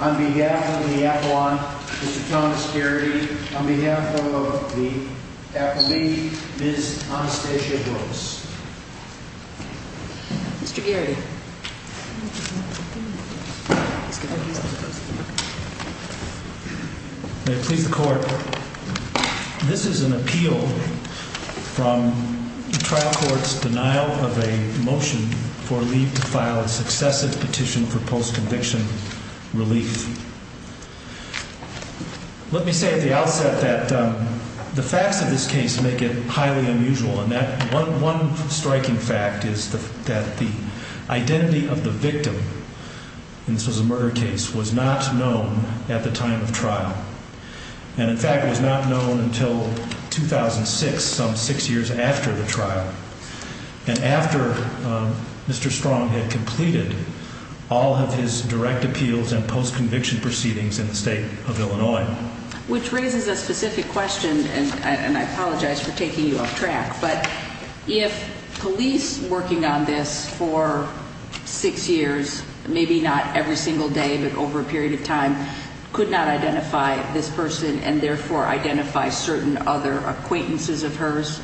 On behalf of the Appalachians, Ms. Anastasia Brooks. May it please the Court, this is an appeal from the trial court's denial of a motion for leave to file a successive petition for post-conviction relief. Let me say at the outset that the facts of this case make it highly unusual, and one striking fact is that the identity of the victim, and this was a murder case, was not known at the time of trial, and in fact it was not known until 2006, some six years after the trial, and after Mr. Strong had completed all of his direct appeals and post-conviction proceedings in the state of Illinois. Which raises a specific question, and I apologize for taking you off track, but if police working on this for six years, maybe not every single day, but over a period of time, could not identify this person, and therefore identify certain other acquaintances of hers,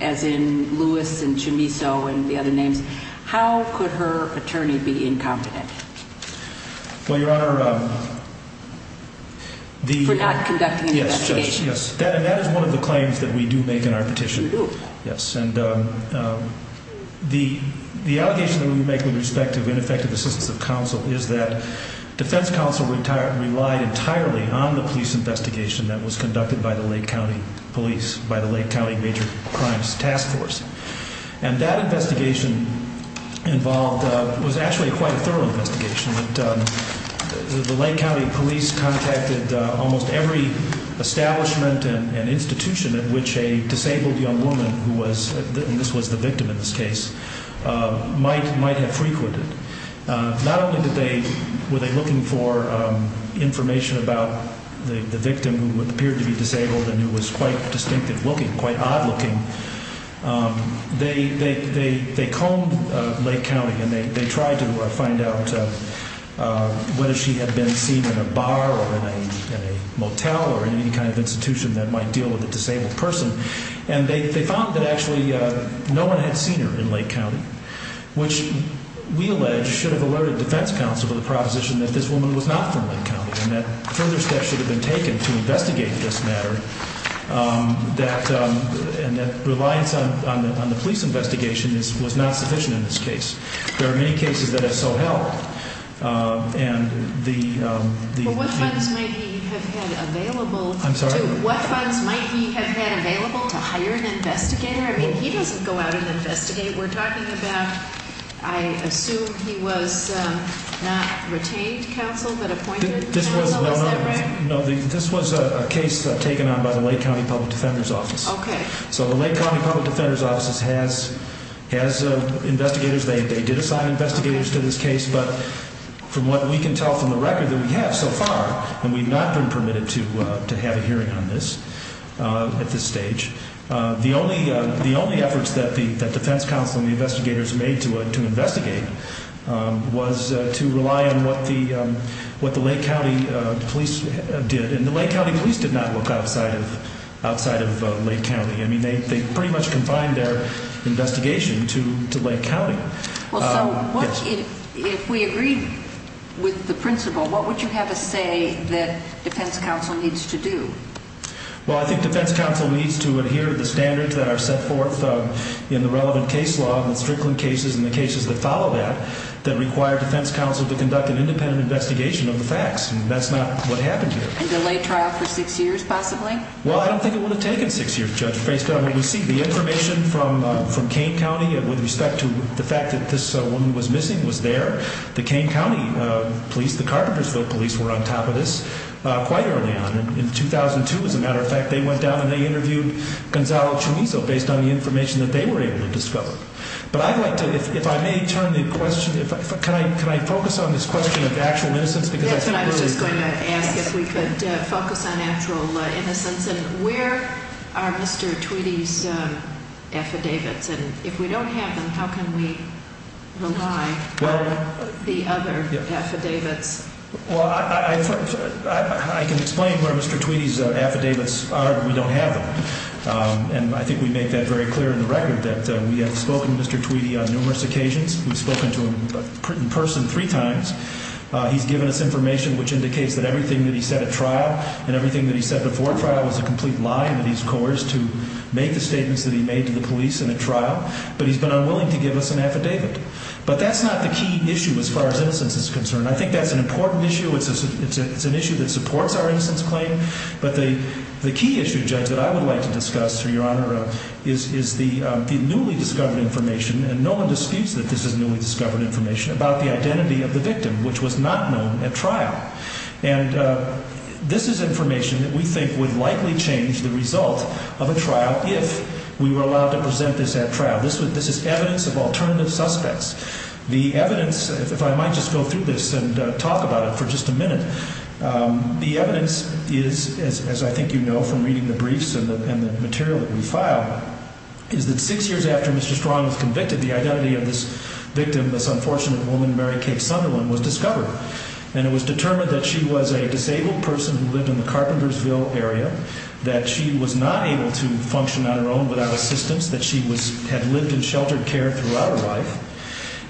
as in Lewis and Chumiso and the other names, how could her attorney be incompetent? Well, Your Honor, the... For not conducting the investigation. Yes, Judge, yes, and that is one of the claims that we do make in our petition. Yes, and the allegation that we make with respect to ineffective assistance of counsel is that defense counsel relied entirely on the police investigation that was conducted by the Lake County police, by the Lake County Major Crimes Task Force, and that investigation involved, was actually quite a thorough investigation, but the Lake County police contacted almost every establishment and institution at which a disabled young woman who was, and this was the victim in this case, might have frequented. Not only were they looking for information about the victim who appeared to be disabled and who was quite distinctive looking, quite odd looking, they combed Lake County and they tried to find out whether she had been seen in a bar or in a motel or in any kind of institution that might deal with a disabled person, and they found that actually no one had seen her in Lake County, which we allege should have alerted defense counsel to the proposition that this woman was not from Lake County, and that further steps should have been taken to investigate this matter, and that reliance on the police investigation was not sufficient in this case. There are many cases that have so helped, and the... Well, what funds might he have had available... I'm sorry? What funds might he have had available to hire an investigator? I mean, he doesn't go out and investigate. We're talking about, I assume he was not retained counsel, but appointed counsel, is that right? No, this was a case taken on by the Lake County Public Defender's Office. Okay. So the Lake County Public Defender's Office has investigators. They did assign investigators to this case, but from what we can tell from the record that we have so far, and we've not been permitted to have a hearing on this at this stage, the only efforts that the defense counsel and the investigators made to investigate was to rely on what the Lake County police did. And the Lake County police did not look outside of Lake County. I mean, they pretty much confined their investigation to Lake County. Well, so if we agreed with the principle, what would you have to say that defense counsel needs to do? Well, I think defense counsel needs to adhere to the standards that are set forth in the relevant case law and the Strickland cases and the cases that follow that, that require defense counsel to conduct an independent investigation of the facts, and that's not what happened here. And delay trial for six years, possibly? Well, I don't think it would have taken six years, Judge, based on what we see. The information from Kane County with respect to the fact that this woman was missing was there. The Kane County police, the Carpentersville police, were on top of this quite early on. In 2002, as a matter of fact, they went down and they interviewed Gonzalo Chumizo based on the information that they were able to discover. But I'd like to, if I may turn the question, can I focus on this question of actual innocence? Yes, and I was just going to ask if we could focus on actual innocence. And where are Mr. Tweedy's affidavits? And if we don't have them, how can we rely on the other affidavits? Well, I can explain where Mr. Tweedy's affidavits are if we don't have them. And I think we make that very clear in the record that we have spoken to Mr. Tweedy on numerous occasions. We've spoken to him in person three times. He's given us information which indicates that everything that he said at trial and everything that he said before trial was a complete lie and that he's coerced to make the statements that he made to the police in a trial. But he's been unwilling to give us an affidavit. But that's not the key issue as far as innocence is concerned. I think that's an important issue. It's an issue that supports our innocence claim. But the key issue, Judge, that I would like to discuss, Your Honor, is the newly discovered information, and no one disputes that this is newly discovered information, about the identity of the victim which was not known at trial. And this is information that we think would likely change the result of a trial if we were allowed to present this at trial. This is evidence of alternative suspects. The evidence, if I might just go through this and talk about it for just a minute, the evidence is, as I think you know from reading the briefs and the material that we filed, is that six years after Mr. Strong was convicted, the identity of this victim, this unfortunate woman, Mary Kate Sunderland, was discovered. And it was determined that she was a disabled person who lived in the Carpentersville area, that she was not able to function on her own without assistance,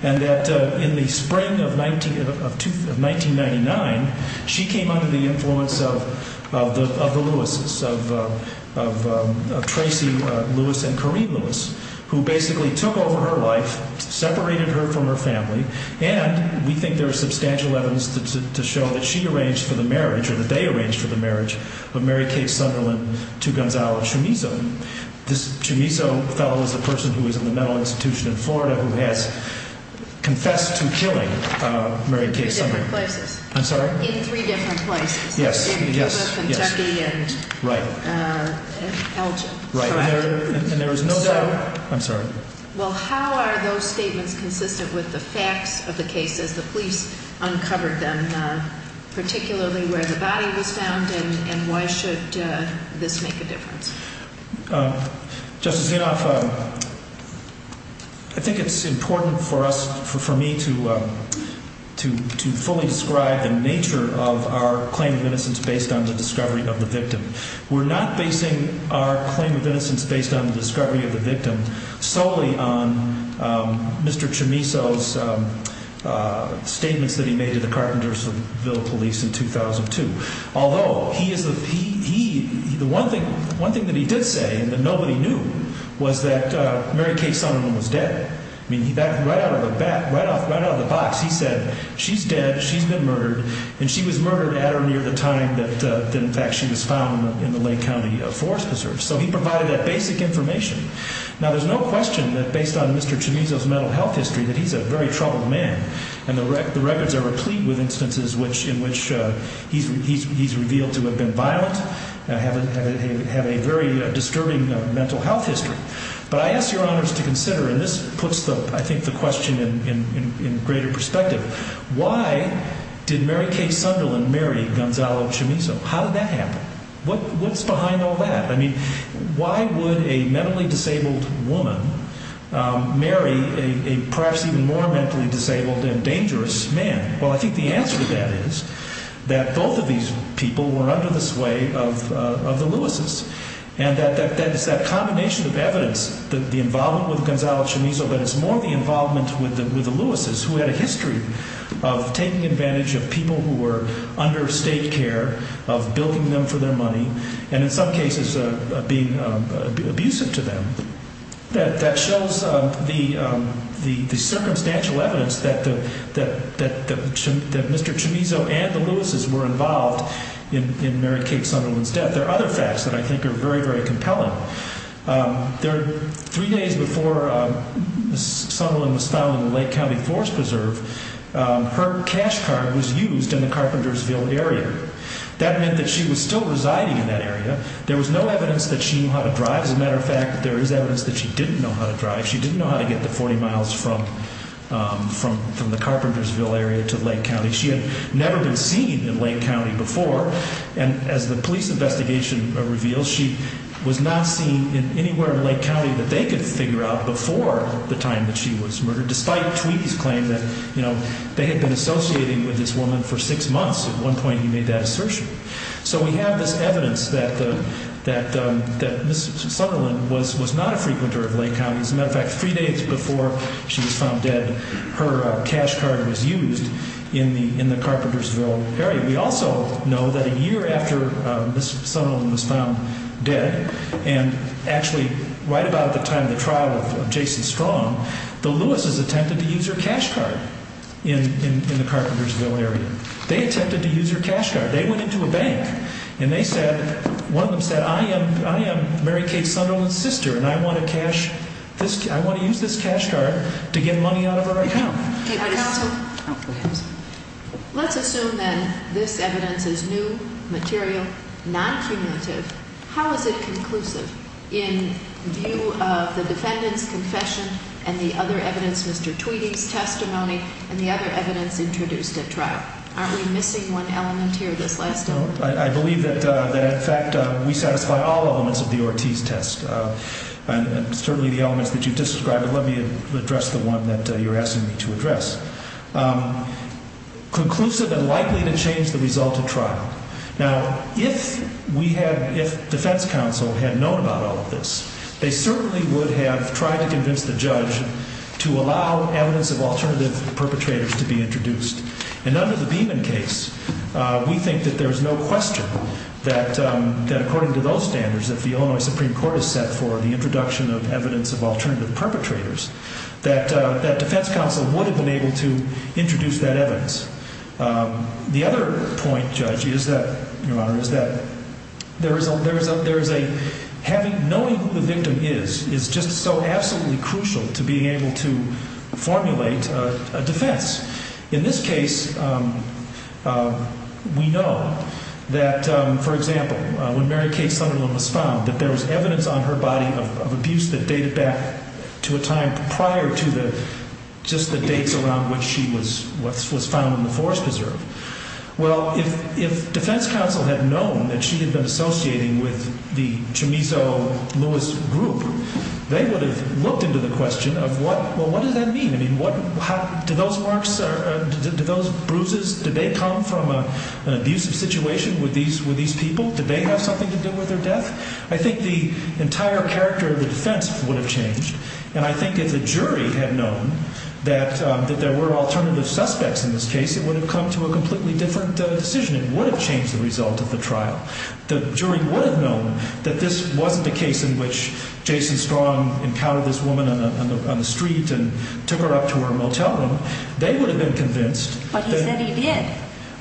and that in the spring of 1999, she came under the influence of the Lewises, of Tracy Lewis and Kareem Lewis, who basically took over her life, separated her from her family, and we think there is substantial evidence to show that she arranged for the marriage, or that they arranged for the marriage of Mary Kate Sunderland to Gonzalo Chumizo. This Chumizo fellow is the person who was in the mental institution in Florida who has confessed to killing Mary Kate Sunderland. In three different places. I'm sorry? In three different places. Yes. In Cuba, Kentucky, and Elgin. Right. And there is no doubt. I'm sorry. Well, how are those statements consistent with the facts of the case as the police uncovered them, particularly where the body was found, and why should this make a difference? Justice Zinoff, I think it's important for us, for me, to fully describe the nature of our claim of innocence based on the discovery of the victim. We're not basing our claim of innocence based on the discovery of the victim solely on Mr. Chumizo's statements that he made to the Carpentersville police in 2002. Although, the one thing that he did say that nobody knew was that Mary Kate Sunderland was dead. I mean, right out of the box, he said, she's dead, she's been murdered, and she was murdered at or near the time that in fact she was found in the Lake County Forest Preserve. So he provided that basic information. Now, there's no question that based on Mr. Chumizo's mental health history that he's a very troubled man. And the records are replete with instances in which he's revealed to have been violent and have a very disturbing mental health history. But I ask your honors to consider, and this puts, I think, the question in greater perspective, why did Mary Kate Sunderland marry Gonzalo Chumizo? How did that happen? What's behind all that? I mean, why would a mentally disabled woman marry a perhaps even more mentally disabled and dangerous man? Well, I think the answer to that is that both of these people were under the sway of the Lewises. And that is that combination of evidence, the involvement with Gonzalo Chumizo, but it's more the involvement with the Lewises who had a history of taking advantage of people who were under state care, of building them for their money, and in some cases being abusive to them. That shows the circumstantial evidence that Mr. Chumizo and the Lewises were involved in Mary Kate Sunderland's death. There are other facts that I think are very, very compelling. Three days before Sunderland was found in the Lake County Forest Preserve, her cash card was used in the Carpentersville area. That meant that she was still residing in that area. There was no evidence that she knew how to drive. As a matter of fact, there is evidence that she didn't know how to drive. She didn't know how to get the 40 miles from the Carpentersville area to Lake County. She had never been seen in Lake County before, and as the police investigation reveals, she was not seen anywhere in Lake County that they could figure out before the time that she was murdered, despite Tweedy's claim that they had been associating with this woman for six months. At one point he made that assertion. So we have this evidence that Ms. Sunderland was not a frequenter of Lake County. As a matter of fact, three days before she was found dead, her cash card was used in the Carpentersville area. We also know that a year after Ms. Sunderland was found dead, and actually right about at the time of the trial of Jason Strong, the Lewises attempted to use her cash card in the Carpentersville area. They attempted to use her cash card. They went into a bank, and one of them said, I am Mary Kay Sunderland's sister, and I want to use this cash card to get money out of her account. Counsel, let's assume that this evidence is new, material, non-cumulative. How is it conclusive in view of the defendant's confession and the other evidence, Mr. Tweedy's testimony, and the other evidence introduced at trial? Aren't we missing one element here this last element? I believe that, in fact, we satisfy all elements of the Ortiz test, and certainly the elements that you've described. Let me address the one that you're asking me to address. Conclusive and likely to change the result of trial. Now, if we had, if defense counsel had known about all of this, they certainly would have tried to convince the judge to allow evidence of alternative perpetrators to be introduced. And under the Beeman case, we think that there is no question that according to those standards, if the Illinois Supreme Court is set for the introduction of evidence of alternative perpetrators, that defense counsel would have been able to introduce that evidence. The other point, Judge, is that, Your Honor, is that there is a, there is a, having, knowing who the victim is is just so absolutely crucial to being able to formulate a defense. In this case, we know that, for example, when Mary Kay Sunderland was found, that there was evidence on her body of abuse that dated back to a time prior to the, just the dates around which she was found in the forest preserve. Well, if defense counsel had known that she had been associating with the Chumizo Lewis group, they would have looked into the question of what, well, what does that mean? I mean, what, how, do those marks, do those bruises, did they come from an abusive situation with these people? Did they have something to do with their death? I think the entire character of the defense would have changed. And I think if the jury had known that there were alternative suspects in this case, it would have come to a completely different decision. It would have changed the result of the trial. The jury would have known that this wasn't a case in which Jason Strong encountered this woman on the street and took her up to her motel room. They would have been convinced that- But he said he did.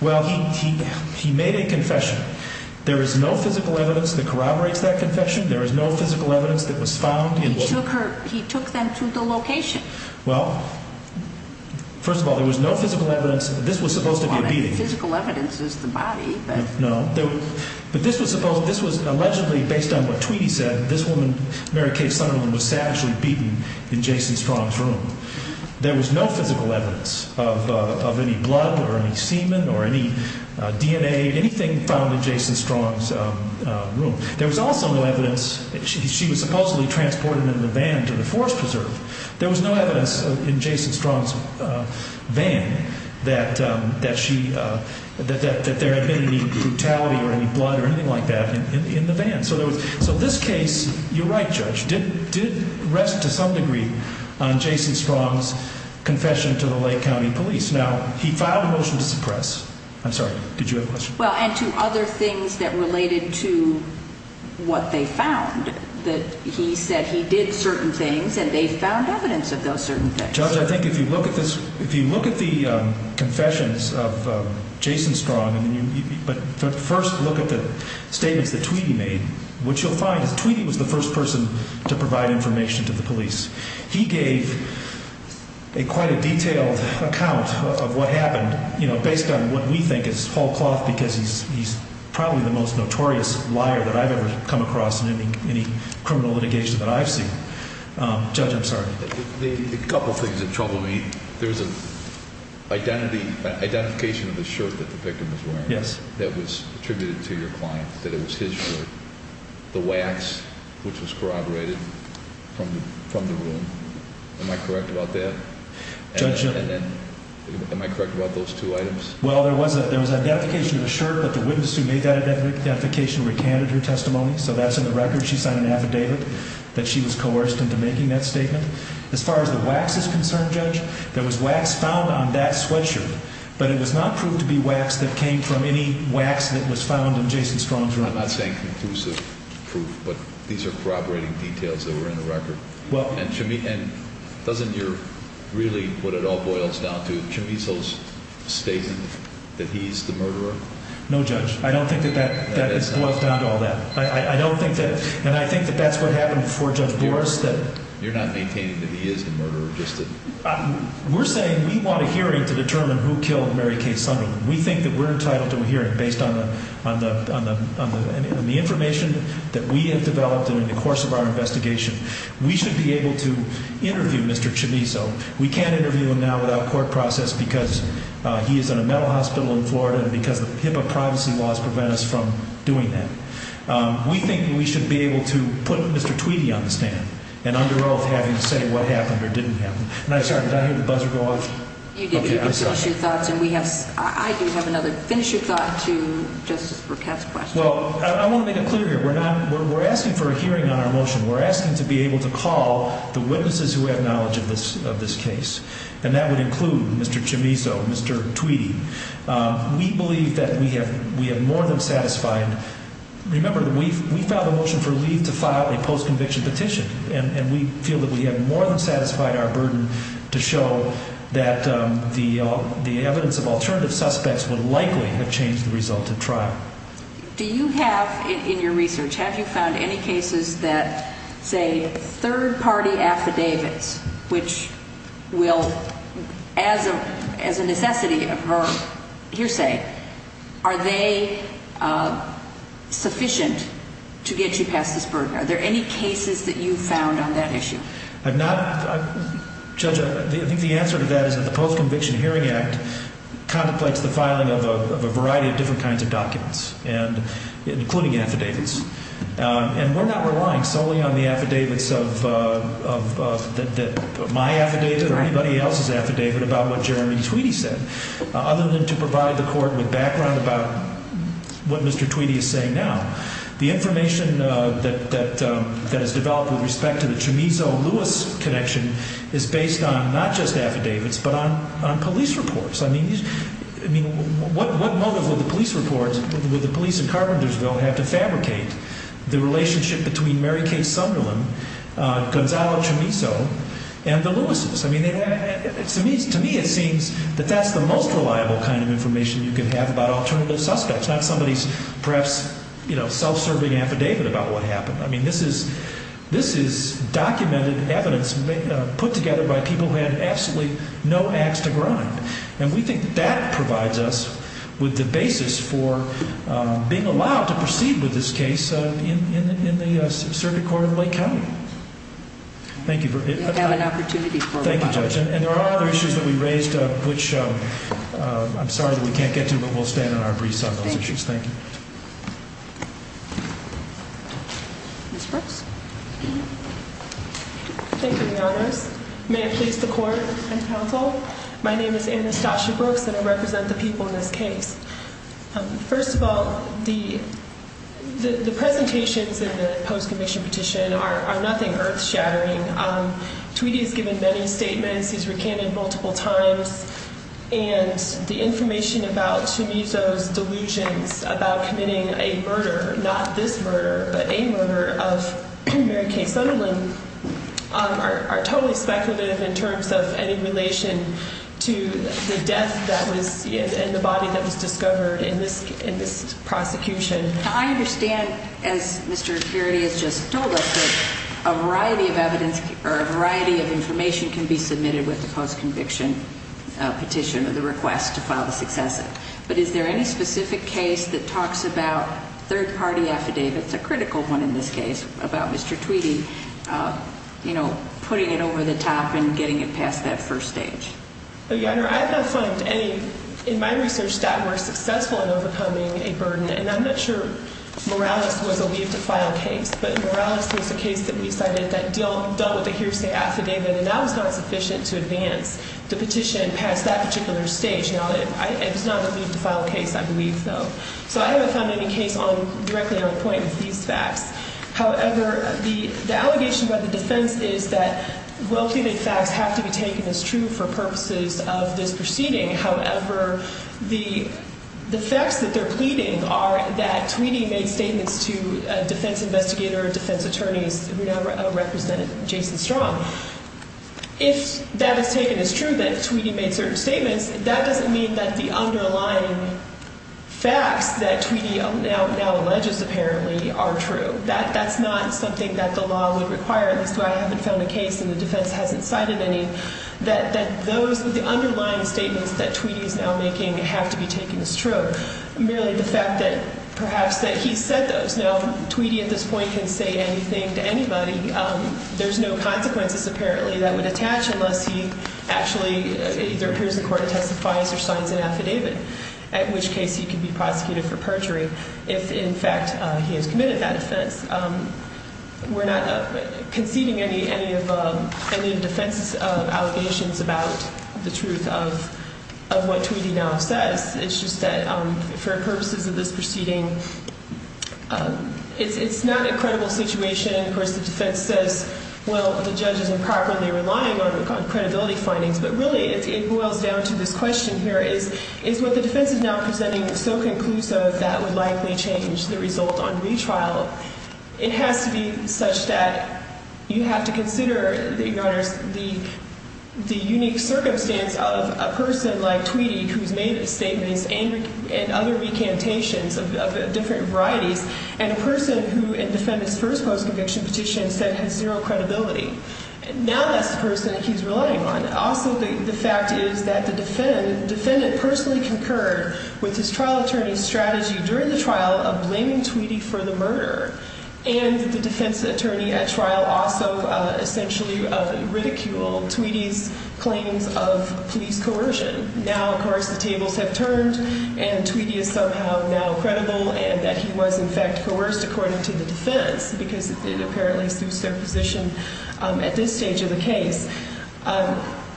Well, he made a confession. There is no physical evidence that corroborates that confession. There is no physical evidence that was found in- He took her, he took them to the location. Well, first of all, there was no physical evidence. This was supposed to be a beating. Well, I mean, physical evidence is the body, but- No. But this was supposed, this was allegedly, based on what Tweedy said, this woman, Mary Kay Sunderland, was actually beaten in Jason Strong's room. There was no physical evidence of any blood or any semen or any DNA, anything found in Jason Strong's room. There was also no evidence, she was supposedly transported in a van to the Forest Preserve. There was no evidence in Jason Strong's van that there had been any brutality or any blood or anything like that in the van. So this case, you're right, Judge, did rest to some degree on Jason Strong's confession to the Lake County Police. Now, he filed a motion to suppress. I'm sorry, did you have a question? Well, and to other things that related to what they found, that he said he did certain things and they found evidence of those certain things. Judge, I think if you look at this, if you look at the confessions of Jason Strong, but first look at the statements that Tweedy made, what you'll find is Tweedy was the first person to provide information to the police. He gave quite a detailed account of what happened, you know, based on what we think is whole cloth, because he's probably the most notorious liar that I've ever come across in any criminal litigation that I've seen. Judge, I'm sorry. A couple things that trouble me. There's an identification of the shirt that the victim was wearing that was attributed to your client, that it was his shirt. The wax, which was corroborated from the room. Am I correct about that? Judge? Am I correct about those two items? Well, there was an identification of the shirt, but the witness who made that identification recanted her testimony, so that's in the record. She signed an affidavit that she was coerced into making that statement. As far as the wax is concerned, Judge, there was wax found on that sweatshirt, but it was not proved to be wax that came from any wax that was found in Jason Strong's room. I'm not saying conclusive proof, but these are corroborating details that were in the record. And doesn't your really, what it all boils down to, Chumiso's statement that he's the murderer? No, Judge. I don't think that that is boiled down to all that. I don't think that, and I think that that's what happened before Judge Bores said it. You're not maintaining that he is the murderer, just that? We're saying we want a hearing to determine who killed Mary Kay Sunny. We think that we're entitled to a hearing based on the information that we have developed in the course of our investigation. We should be able to interview Mr. Chumiso. We can't interview him now without court process because he is in a mental hospital in Florida and because the HIPAA privacy laws prevent us from doing that. We think we should be able to put Mr. Tweedy on the stand and under oath have him say what happened or didn't happen. Sorry, did I hear the buzzer go off? You did. I do have another finish your thought to Justice Burkett's question. Well, I want to make it clear here. We're asking for a hearing on our motion. We're asking to be able to call the witnesses who have knowledge of this case, and that would include Mr. Chumiso, Mr. Tweedy. We believe that we have more than satisfied. Remember, we filed a motion for leave to file a post-conviction petition, and we feel that we have more than satisfied our burden to show that the evidence of alternative suspects would likely have changed the result of trial. Do you have in your research, have you found any cases that say third-party affidavits, which will as a necessity of her hearsay, are they sufficient to get you past this burden? Are there any cases that you've found on that issue? Judge, I think the answer to that is that the Post-Conviction Hearing Act contemplates the filing of a variety of different kinds of documents, including affidavits. And we're not relying solely on the affidavits of my affidavit or anybody else's affidavit about what Jeremy Tweedy said, other than to provide the court with background about what Mr. Tweedy is saying now. The information that has developed with respect to the Chumizo-Lewis connection is based on not just affidavits, but on police reports. I mean, what motive would the police report, would the police in Carpentersville have to fabricate the relationship between Mary Kay Sunderland, Gonzalo Chumizo, and the Lewises? I mean, to me it seems that that's the most reliable kind of information you can have about alternative suspects, not somebody's perhaps, you know, self-serving affidavit about what happened. I mean, this is documented evidence put together by people who had absolutely no ax to grind. And we think that that provides us with the basis for being allowed to proceed with this case in the Circuit Court of Lake County. Thank you. We'll have an opportunity for one more. Thank you, Judge. And there are other issues that we raised, which I'm sorry that we can't get to, but we'll stand on our briefs on those issues. Thank you. Ms. Brooks. Thank you, Your Honors. May it please the Court and counsel, my name is Anastasia Brooks, and I represent the people in this case. First of all, the presentations in the post-conviction petition are nothing earth-shattering. Tweedy has given many statements. He's recanted multiple times. And the information about Shimizu's delusions about committing a murder, not this murder, but a murder of Mary Kay Sutherland, are totally speculative in terms of any relation to the death that was in the body that was discovered in this prosecution. Now, I understand, as Mr. Carity has just told us, that a variety of evidence or a variety of information can be submitted with the post-conviction petition or the request to file the successive. But is there any specific case that talks about third-party affidavits, a critical one in this case, about Mr. Tweedy, you know, putting it over the top and getting it past that first stage? Your Honor, I have not found any, in my research, that were successful in overcoming a burden. And I'm not sure Morales was a leave-to-file case, but Morales was a case that we cited that dealt with a hearsay affidavit, and that was not sufficient to advance the petition past that particular stage. Now, it was not a leave-to-file case, I believe, though. So I haven't found any case directly on point with these facts. However, the allegation by the defense is that well-pleaded facts have to be taken as true for purposes of this proceeding. However, the facts that they're pleading are that Tweedy made statements to a defense investigator or defense attorneys who now represented Jason Strong. If that is taken as true, that Tweedy made certain statements, that doesn't mean that the underlying facts that Tweedy now alleges apparently are true. That's not something that the law would require, at least I haven't found a case and the defense hasn't cited any, that those underlying statements that Tweedy is now making have to be taken as true. Merely the fact that perhaps that he said those. Now, Tweedy at this point can say anything to anybody. There's no consequences, apparently, that would attach unless he actually either appears in court and testifies or signs an affidavit, at which case he could be prosecuted for perjury if, in fact, he has committed that offense. We're not conceding any defense allegations about the truth of what Tweedy now says. It's just that for purposes of this proceeding, it's not a credible situation. Of course, the defense says, well, the judge is improperly relying on credibility findings. But really, it boils down to this question here, is what the defense is now presenting is so conclusive, that would likely change the result on retrial. It has to be such that you have to consider, Your Honors, the unique circumstance of a person like Tweedy, who's made statements and other recantations of different varieties, and a person who in the defendant's first post-conviction petition said has zero credibility. Now that's the person he's relying on. Also, the fact is that the defendant personally concurred with his trial attorney's strategy during the trial of blaming Tweedy for the murder. And the defense attorney at trial also essentially ridiculed Tweedy's claims of police coercion. Now, of course, the tables have turned, and Tweedy is somehow now credible, and that he was, in fact, coerced according to the defense, because it apparently suits their position at this stage of the case.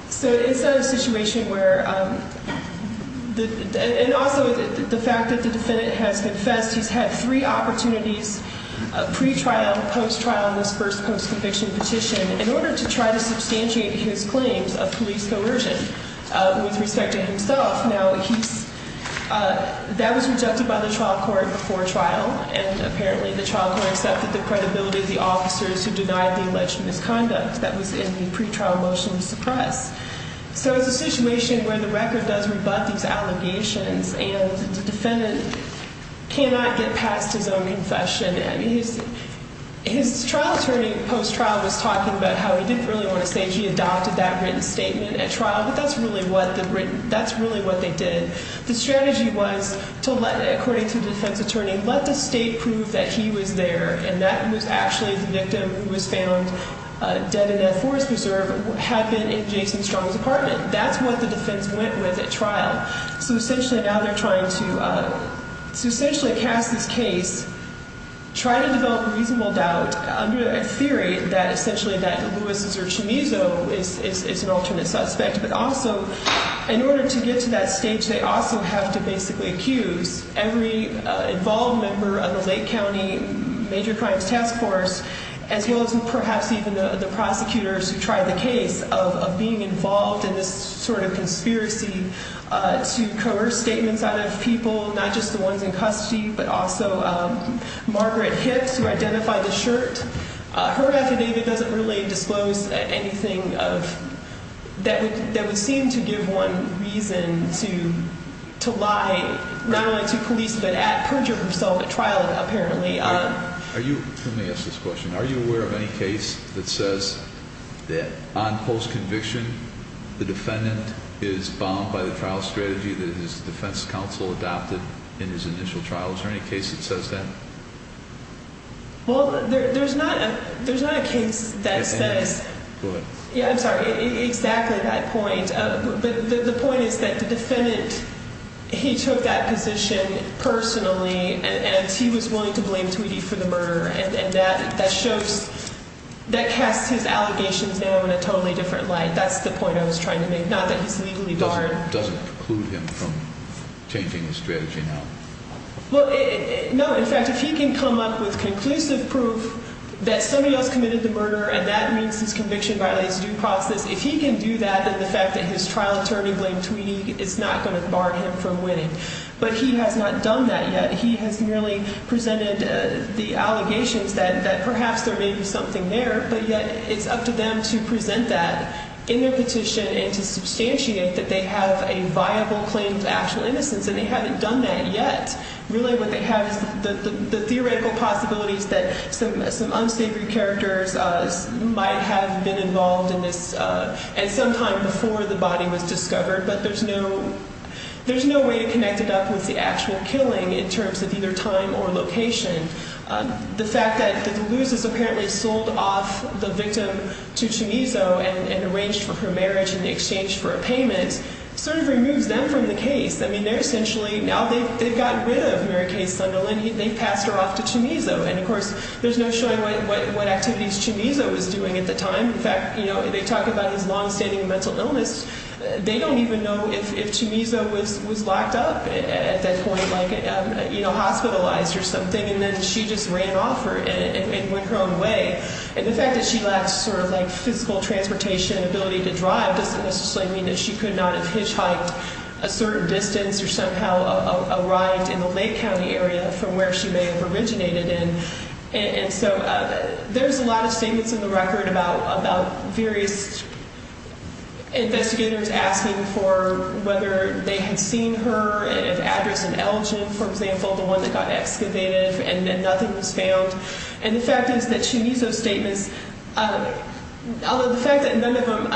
So it's a situation where, and also the fact that the defendant has confessed, he's had three opportunities, pre-trial, post-trial, and this first post-conviction petition, in order to try to substantiate his claims of police coercion with respect to himself. Now, that was rejected by the trial court before trial, and apparently the trial court accepted the credibility of the officers who denied the alleged misconduct that was in the pre-trial motion to suppress. So it's a situation where the record does rebut these allegations, and the defendant cannot get past his own confession. His trial attorney, post-trial, was talking about how he didn't really want to say he adopted that written statement at trial, but that's really what they did. The strategy was to let, according to the defense attorney, let the state prove that he was there, and that it was actually the victim who was found dead in that forest preserve had been in Jason Strong's apartment. So essentially, now they're trying to, to essentially cast this case, try to develop reasonable doubt, under a theory that, essentially, that Luis is their chemiso, is an alternate suspect. But also, in order to get to that stage, they also have to basically accuse every involved member of the Lake County Major Crimes Task Force, as well as perhaps even the prosecutors who tried the case, of being involved in this sort of conspiracy to coerce statements out of people, not just the ones in custody, but also Margaret Hicks, who identified the shirt. Her affidavit doesn't really disclose anything that would seem to give one reason to lie, not only to police, but to perjure herself at trial, apparently. Let me ask this question. Are you aware of any case that says that on post-conviction, the defendant is bound by the trial strategy that his defense counsel adopted in his initial trial? Is there any case that says that? Well, there's not a case that says... Go ahead. Yeah, I'm sorry. Exactly that point. But the point is that the defendant, he took that position personally, and he was willing to blame Tweedy for the murder. And that shows... That casts his allegations now in a totally different light. That's the point I was trying to make, not that he's legally barred. Does it preclude him from changing his strategy now? Well, no. In fact, if he can come up with conclusive proof that somebody else committed the murder, and that means his conviction violates due process, if he can do that, then the fact that his trial attorney blamed Tweedy is not going to bar him from winning. But he has not done that yet. He has merely presented the allegations that perhaps there may be something there, but yet it's up to them to present that in their petition and to substantiate that they have a viable claim to actual innocence, and they haven't done that yet. Really what they have is the theoretical possibilities that some unsavory characters might have been involved in this at some time before the body was discovered, but there's no way to connect it up with the actual killing in terms of either time or location. The fact that the Luz has apparently sold off the victim to Chumizo and arranged for her marriage in exchange for a payment sort of removes them from the case. I mean, they're essentially now they've gotten rid of Mary Kay Sunderland. They've passed her off to Chumizo. And, of course, there's no showing what activities Chumizo was doing at the time. In fact, you know, they talk about his longstanding mental illness. They don't even know if Chumizo was locked up at that point, like, you know, hospitalized or something, and then she just ran off and went her own way. And the fact that she lacked sort of, like, physical transportation and ability to drive doesn't necessarily mean that she could not have hitchhiked a certain distance or somehow arrived in the Lake County area from where she may have originated in. And so there's a lot of statements in the record about various investigators asking for whether they had seen her, if address in Elgin, for example, the one that got excavated, and then nothing was found. And the fact is that Chumizo's statements, although the fact that none of them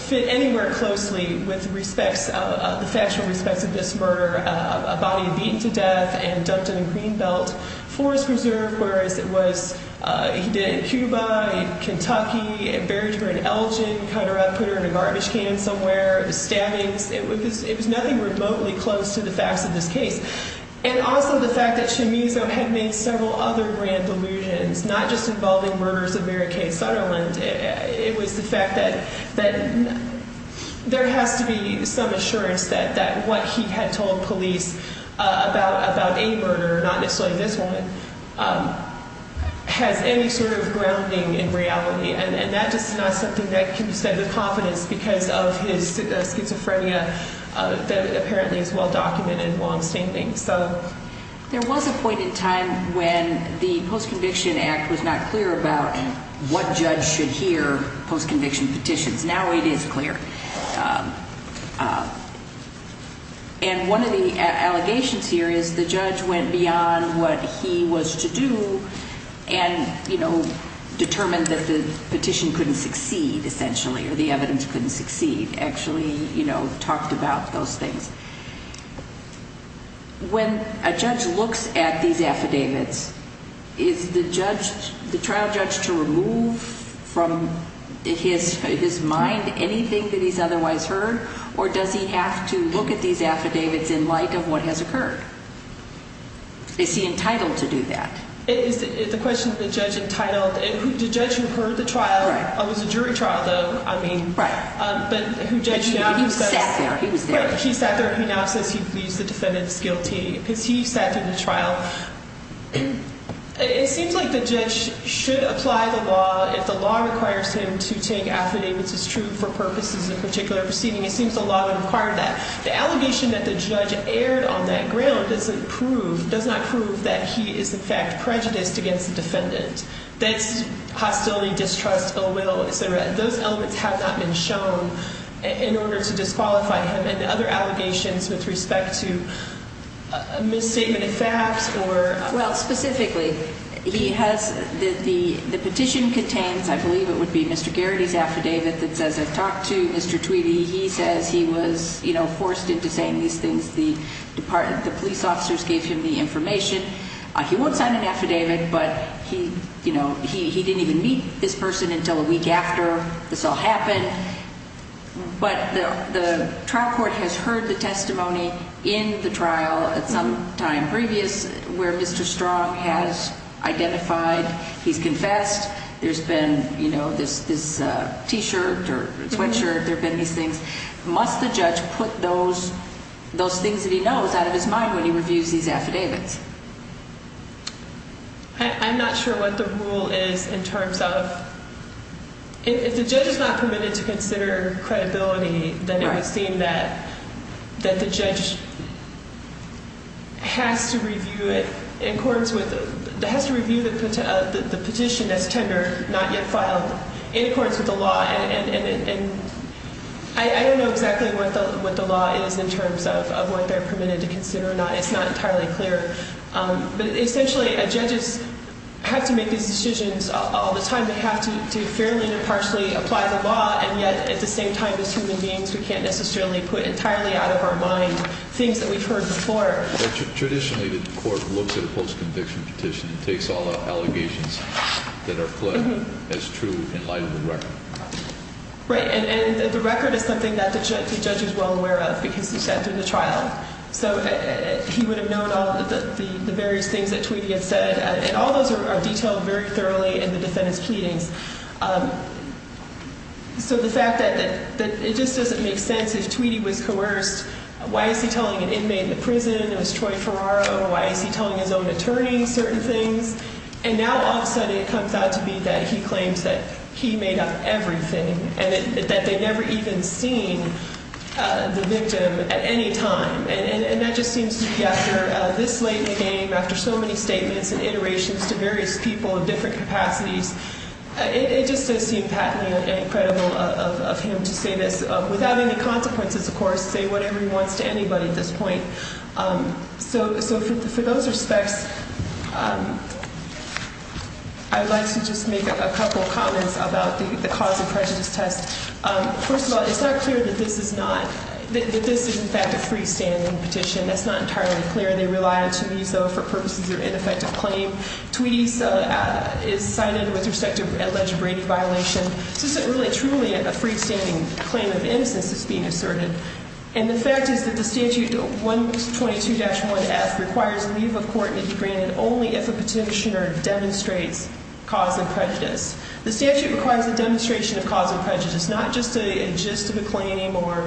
fit anywhere closely with respects of the factual respects of this murder, a body beaten to death and dumped in a green belt forest reserve, whereas it was he did it in Cuba, in Kentucky, buried her in Elgin, cut her up, put her in a garbage can somewhere, stabbings. It was nothing remotely close to the facts of this case. And also the fact that Chumizo had made several other grand delusions, not just involving murders of Mary Kay Sutherland. It was the fact that there has to be some assurance that what he had told police about a murder, not necessarily this one, has any sort of grounding in reality. And that just is not something that can be said with confidence because of his schizophrenia that apparently is well documented while I'm stating things. There was a point in time when the Post-Conviction Act was not clear about what judge should hear post-conviction petitions. Now it is clear. And one of the allegations here is the judge went beyond what he was to do and, you know, determined that the petition couldn't succeed, essentially, or the evidence couldn't succeed. Actually, you know, talked about those things. When a judge looks at these affidavits, is the trial judge to remove from his mind anything that he's otherwise heard? Or does he have to look at these affidavits in light of what has occurred? Is he entitled to do that? It is the question of the judge entitled. The judge who heard the trial, it was a jury trial, though, I mean. Right. He sat there. He was there. He sat there. He now says he believes the defendant is guilty because he sat through the trial. It seems like the judge should apply the law if the law requires him to take affidavits as true for purposes of a particular proceeding. It seems the law would require that. The allegation that the judge erred on that ground doesn't prove, does not prove that he is, in fact, prejudiced against the defendant. That's hostility, distrust, ill will, et cetera. Those elements have not been shown in order to disqualify him. And the other allegations with respect to a misstatement of facts or... The police officers gave him the information. He won't sign an affidavit, but he didn't even meet this person until a week after this all happened. But the trial court has heard the testimony in the trial at some time previous where Mr. Strong has identified he's confessed. There's been this T-shirt or sweatshirt. There have been these things. Must the judge put those things that he knows out of his mind when he reviews these affidavits? I'm not sure what the rule is in terms of... If the judge is not permitted to consider credibility, then it would seem that the judge has to review it in accordance with... Has to review the petition that's tendered, not yet filed, in accordance with the law. And I don't know exactly what the law is in terms of what they're permitted to consider or not. It's not entirely clear. But essentially, judges have to make these decisions all the time. They have to fairly and partially apply the law. And yet, at the same time as human beings, we can't necessarily put entirely out of our mind things that we've heard before. Traditionally, the court looks at a post-conviction petition and takes all the allegations that are fled as true in light of the record. Right. And the record is something that the judge is well aware of because he sat through the trial. So he would have known all the various things that Tweedy had said. And all those are detailed very thoroughly in the defendant's pleadings. So the fact that it just doesn't make sense. If Tweedy was coerced, why is he telling an inmate in the prison it was Troy Ferraro? Why is he telling his own attorney certain things? And now, all of a sudden, it comes out to be that he claims that he made up everything and that they never even seen the victim at any time. And that just seems to be after this late in the game, after so many statements and iterations to various people in different capacities. It just doesn't seem patently credible of him to say this without any consequences, of course, say whatever he wants to anybody at this point. So for those respects, I'd like to just make a couple of comments about the cause of prejudice test. First of all, it's not clear that this is not, that this is, in fact, a freestanding petition. That's not entirely clear. They rely, to me, though, for purposes of ineffective claim. Tweedy is cited with respect to alleged rape violation. This isn't really truly a freestanding claim of innocence that's being asserted. And the fact is that the statute 122-1F requires leave of court to be granted only if a petitioner demonstrates cause of prejudice. The statute requires a demonstration of cause of prejudice, not just a gist of a claim or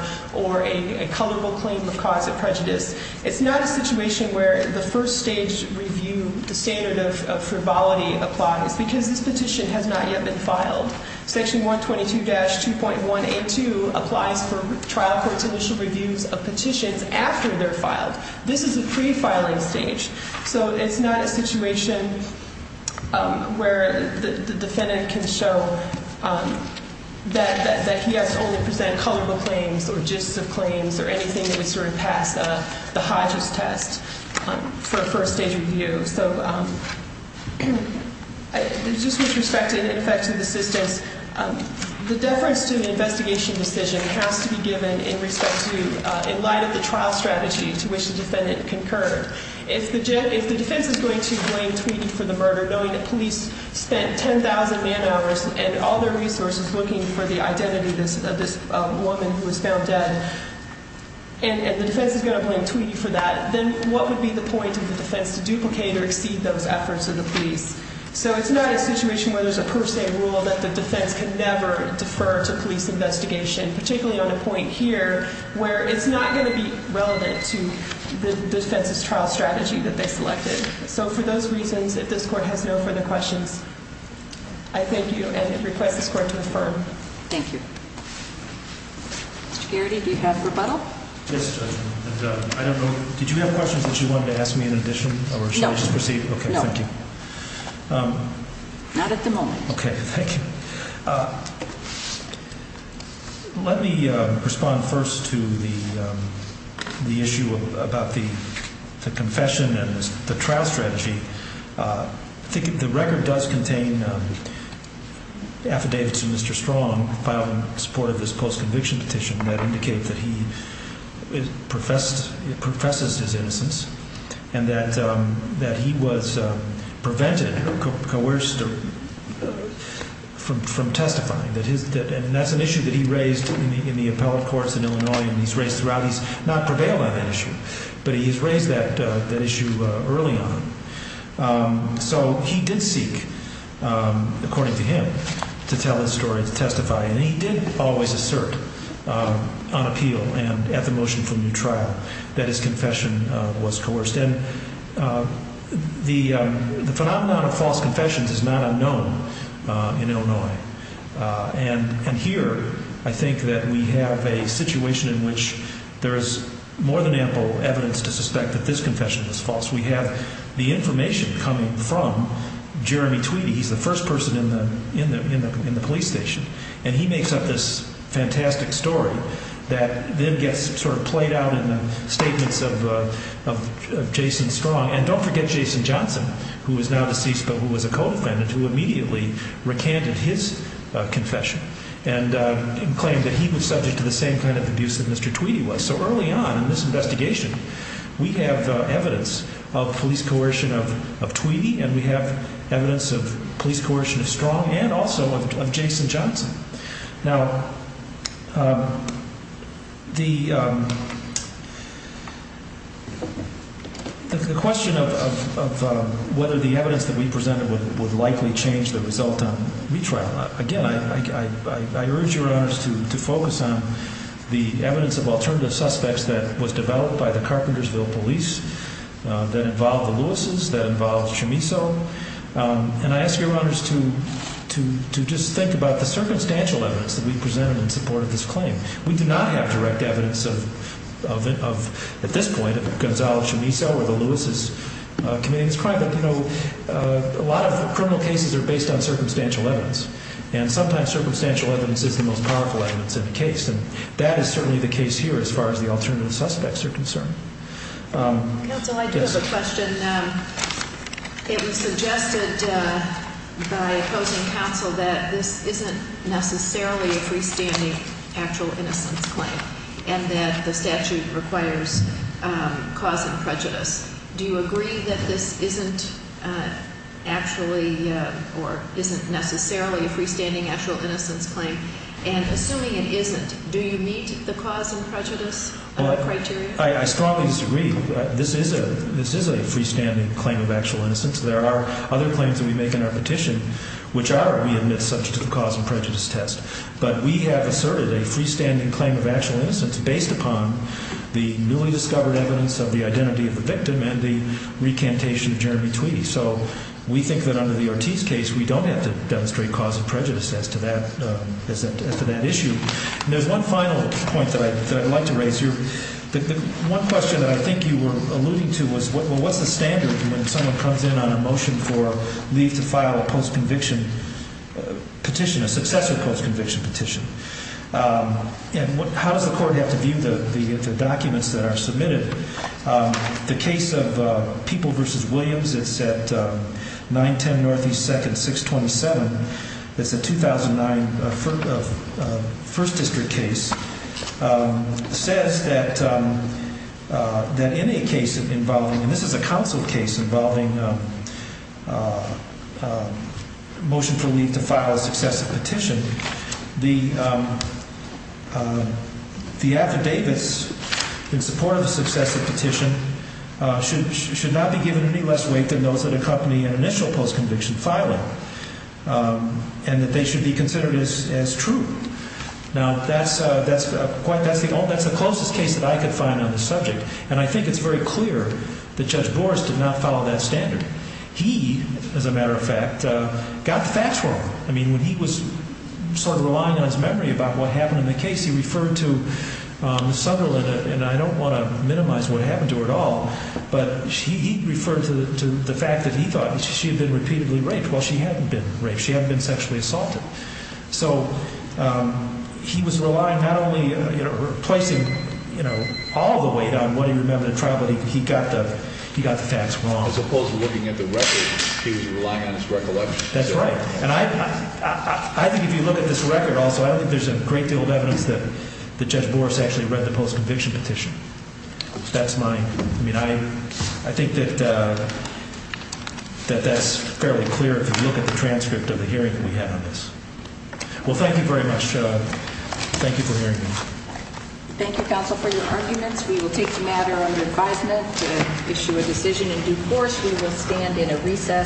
a colorful claim of cause of prejudice. It's not a situation where the first stage review, the standard of frivolity applies because this petition has not yet been filed. Section 122-2.182 applies for trial court's initial reviews of petitions after they're filed. This is a pre-filing stage. So it's not a situation where the defendant can show that he has to only present colorful claims or gists of claims or anything that would sort of pass the high gist test for a first stage review. So just with respect to the effect of assistance, the deference to the investigation decision has to be given in respect to, in light of the trial strategy to which the defendant concurred. If the defense is going to blame Tweedy for the murder, knowing that police spent 10,000 man hours and all their resources looking for the identity of this woman who was found dead, and the defense is going to blame Tweedy for that, then what would be the point of the defense to duplicate or exceed those efforts of the police? So it's not a situation where there's a per se rule that the defense can never defer to police investigation, particularly on a point here where it's not going to be relevant to the defense's trial strategy that they selected. So for those reasons, if this court has no further questions, I thank you and request this court to affirm. Thank you. Mr. Garrity, do you have rebuttal? Yes, Judge. I don't know. Did you have questions that you wanted to ask me in addition? No. Or should I just proceed? Okay, thank you. Not at the moment. Okay, thank you. Let me respond first to the issue about the confession and the trial strategy. I think the record does contain affidavits of Mr. Strong filed in support of this post-conviction petition that indicate that he professes his innocence and that he was prevented, coerced, from testifying. And that's an issue that he raised in the appellate courts in Illinois and he's raised throughout. He's not prevailed on that issue, but he's raised that issue early on. So he did seek, according to him, to tell his story, to testify. And he did always assert on appeal and at the motion for new trial that his confession was coerced. And the phenomenon of false confessions is not unknown in Illinois. And here I think that we have a situation in which there is more than ample evidence to suspect that this confession was false. We have the information coming from Jeremy Tweedy. He's the first person in the police station. And he makes up this fantastic story that then gets sort of played out in the statements of Jason Strong. And don't forget Jason Johnson, who is now deceased but who was a co-defendant, who immediately recanted his confession and claimed that he was subject to the same kind of abuse that Mr. Tweedy was. So early on in this investigation, we have evidence of police coercion of Tweedy and we have evidence of police coercion of Strong and also of Jason Johnson. Now, the question of whether the evidence that we presented would likely change the result on retrial, again, I urge your honors to focus on the evidence of alternative suspects that was developed by the Carpentersville police that involved the Louis's, that involved Chamiso. And I ask your honors to just think about the circumstantial evidence that we presented in support of this claim. We do not have direct evidence of, at this point, of Gonzalo Chamiso or the Louis's committing this crime. But, you know, a lot of criminal cases are based on circumstantial evidence. And sometimes circumstantial evidence is the most powerful evidence in the case. And that is certainly the case here as far as the alternative suspects are concerned. Counsel, I do have a question. It was suggested by opposing counsel that this isn't necessarily a freestanding actual innocence claim and that the statute requires cause and prejudice. Do you agree that this isn't actually or isn't necessarily a freestanding actual innocence claim? And assuming it isn't, do you meet the cause and prejudice criteria? I strongly disagree. This is a freestanding claim of actual innocence. There are other claims that we make in our petition which are, we admit, subject to the cause and prejudice test. But we have asserted a freestanding claim of actual innocence based upon the newly discovered evidence of the identity of the victim and the recantation of Jeremy Tweedy. So we think that under the Ortiz case, we don't have to demonstrate cause and prejudice as to that issue. There's one final point that I'd like to raise here. One question that I think you were alluding to was, well, what's the standard when someone comes in on a motion for leave to file a post-conviction petition, a successor post-conviction petition? And how does the court have to view the documents that are submitted? The case of People v. Williams, it's at 910 Northeast 2nd, 627. It's a 2009 First District case. It says that in a case involving, and this is a counsel case involving a motion for leave to file a successor petition, the affidavits in support of the successor petition should not be given any less weight than those that accompany an initial post-conviction filing and that they should be considered as true. Now, that's the closest case that I could find on the subject, and I think it's very clear that Judge Boras did not follow that standard. He, as a matter of fact, got the facts wrong. I mean, when he was sort of relying on his memory about what happened in the case, he referred to Sutherland, and I don't want to minimize what happened to her at all, but he referred to the fact that he thought she had been repeatedly raped. Well, she hadn't been raped. She hadn't been sexually assaulted. So he was relying not only, you know, placing, you know, all the weight on what he remembered in trial, but he got the facts wrong. As opposed to looking at the records, he was relying on his recollection. That's right. And I think if you look at this record also, I think there's a great deal of evidence that Judge Boras actually read the post-conviction petition. That's my – I mean, I think that that's fairly clear if you look at the transcript of the hearing that we had on this. Well, thank you very much. Thank you for hearing me. Thank you, counsel, for your arguments. We will take the matter under advisement to issue a decision in due course. We will stand in a recess.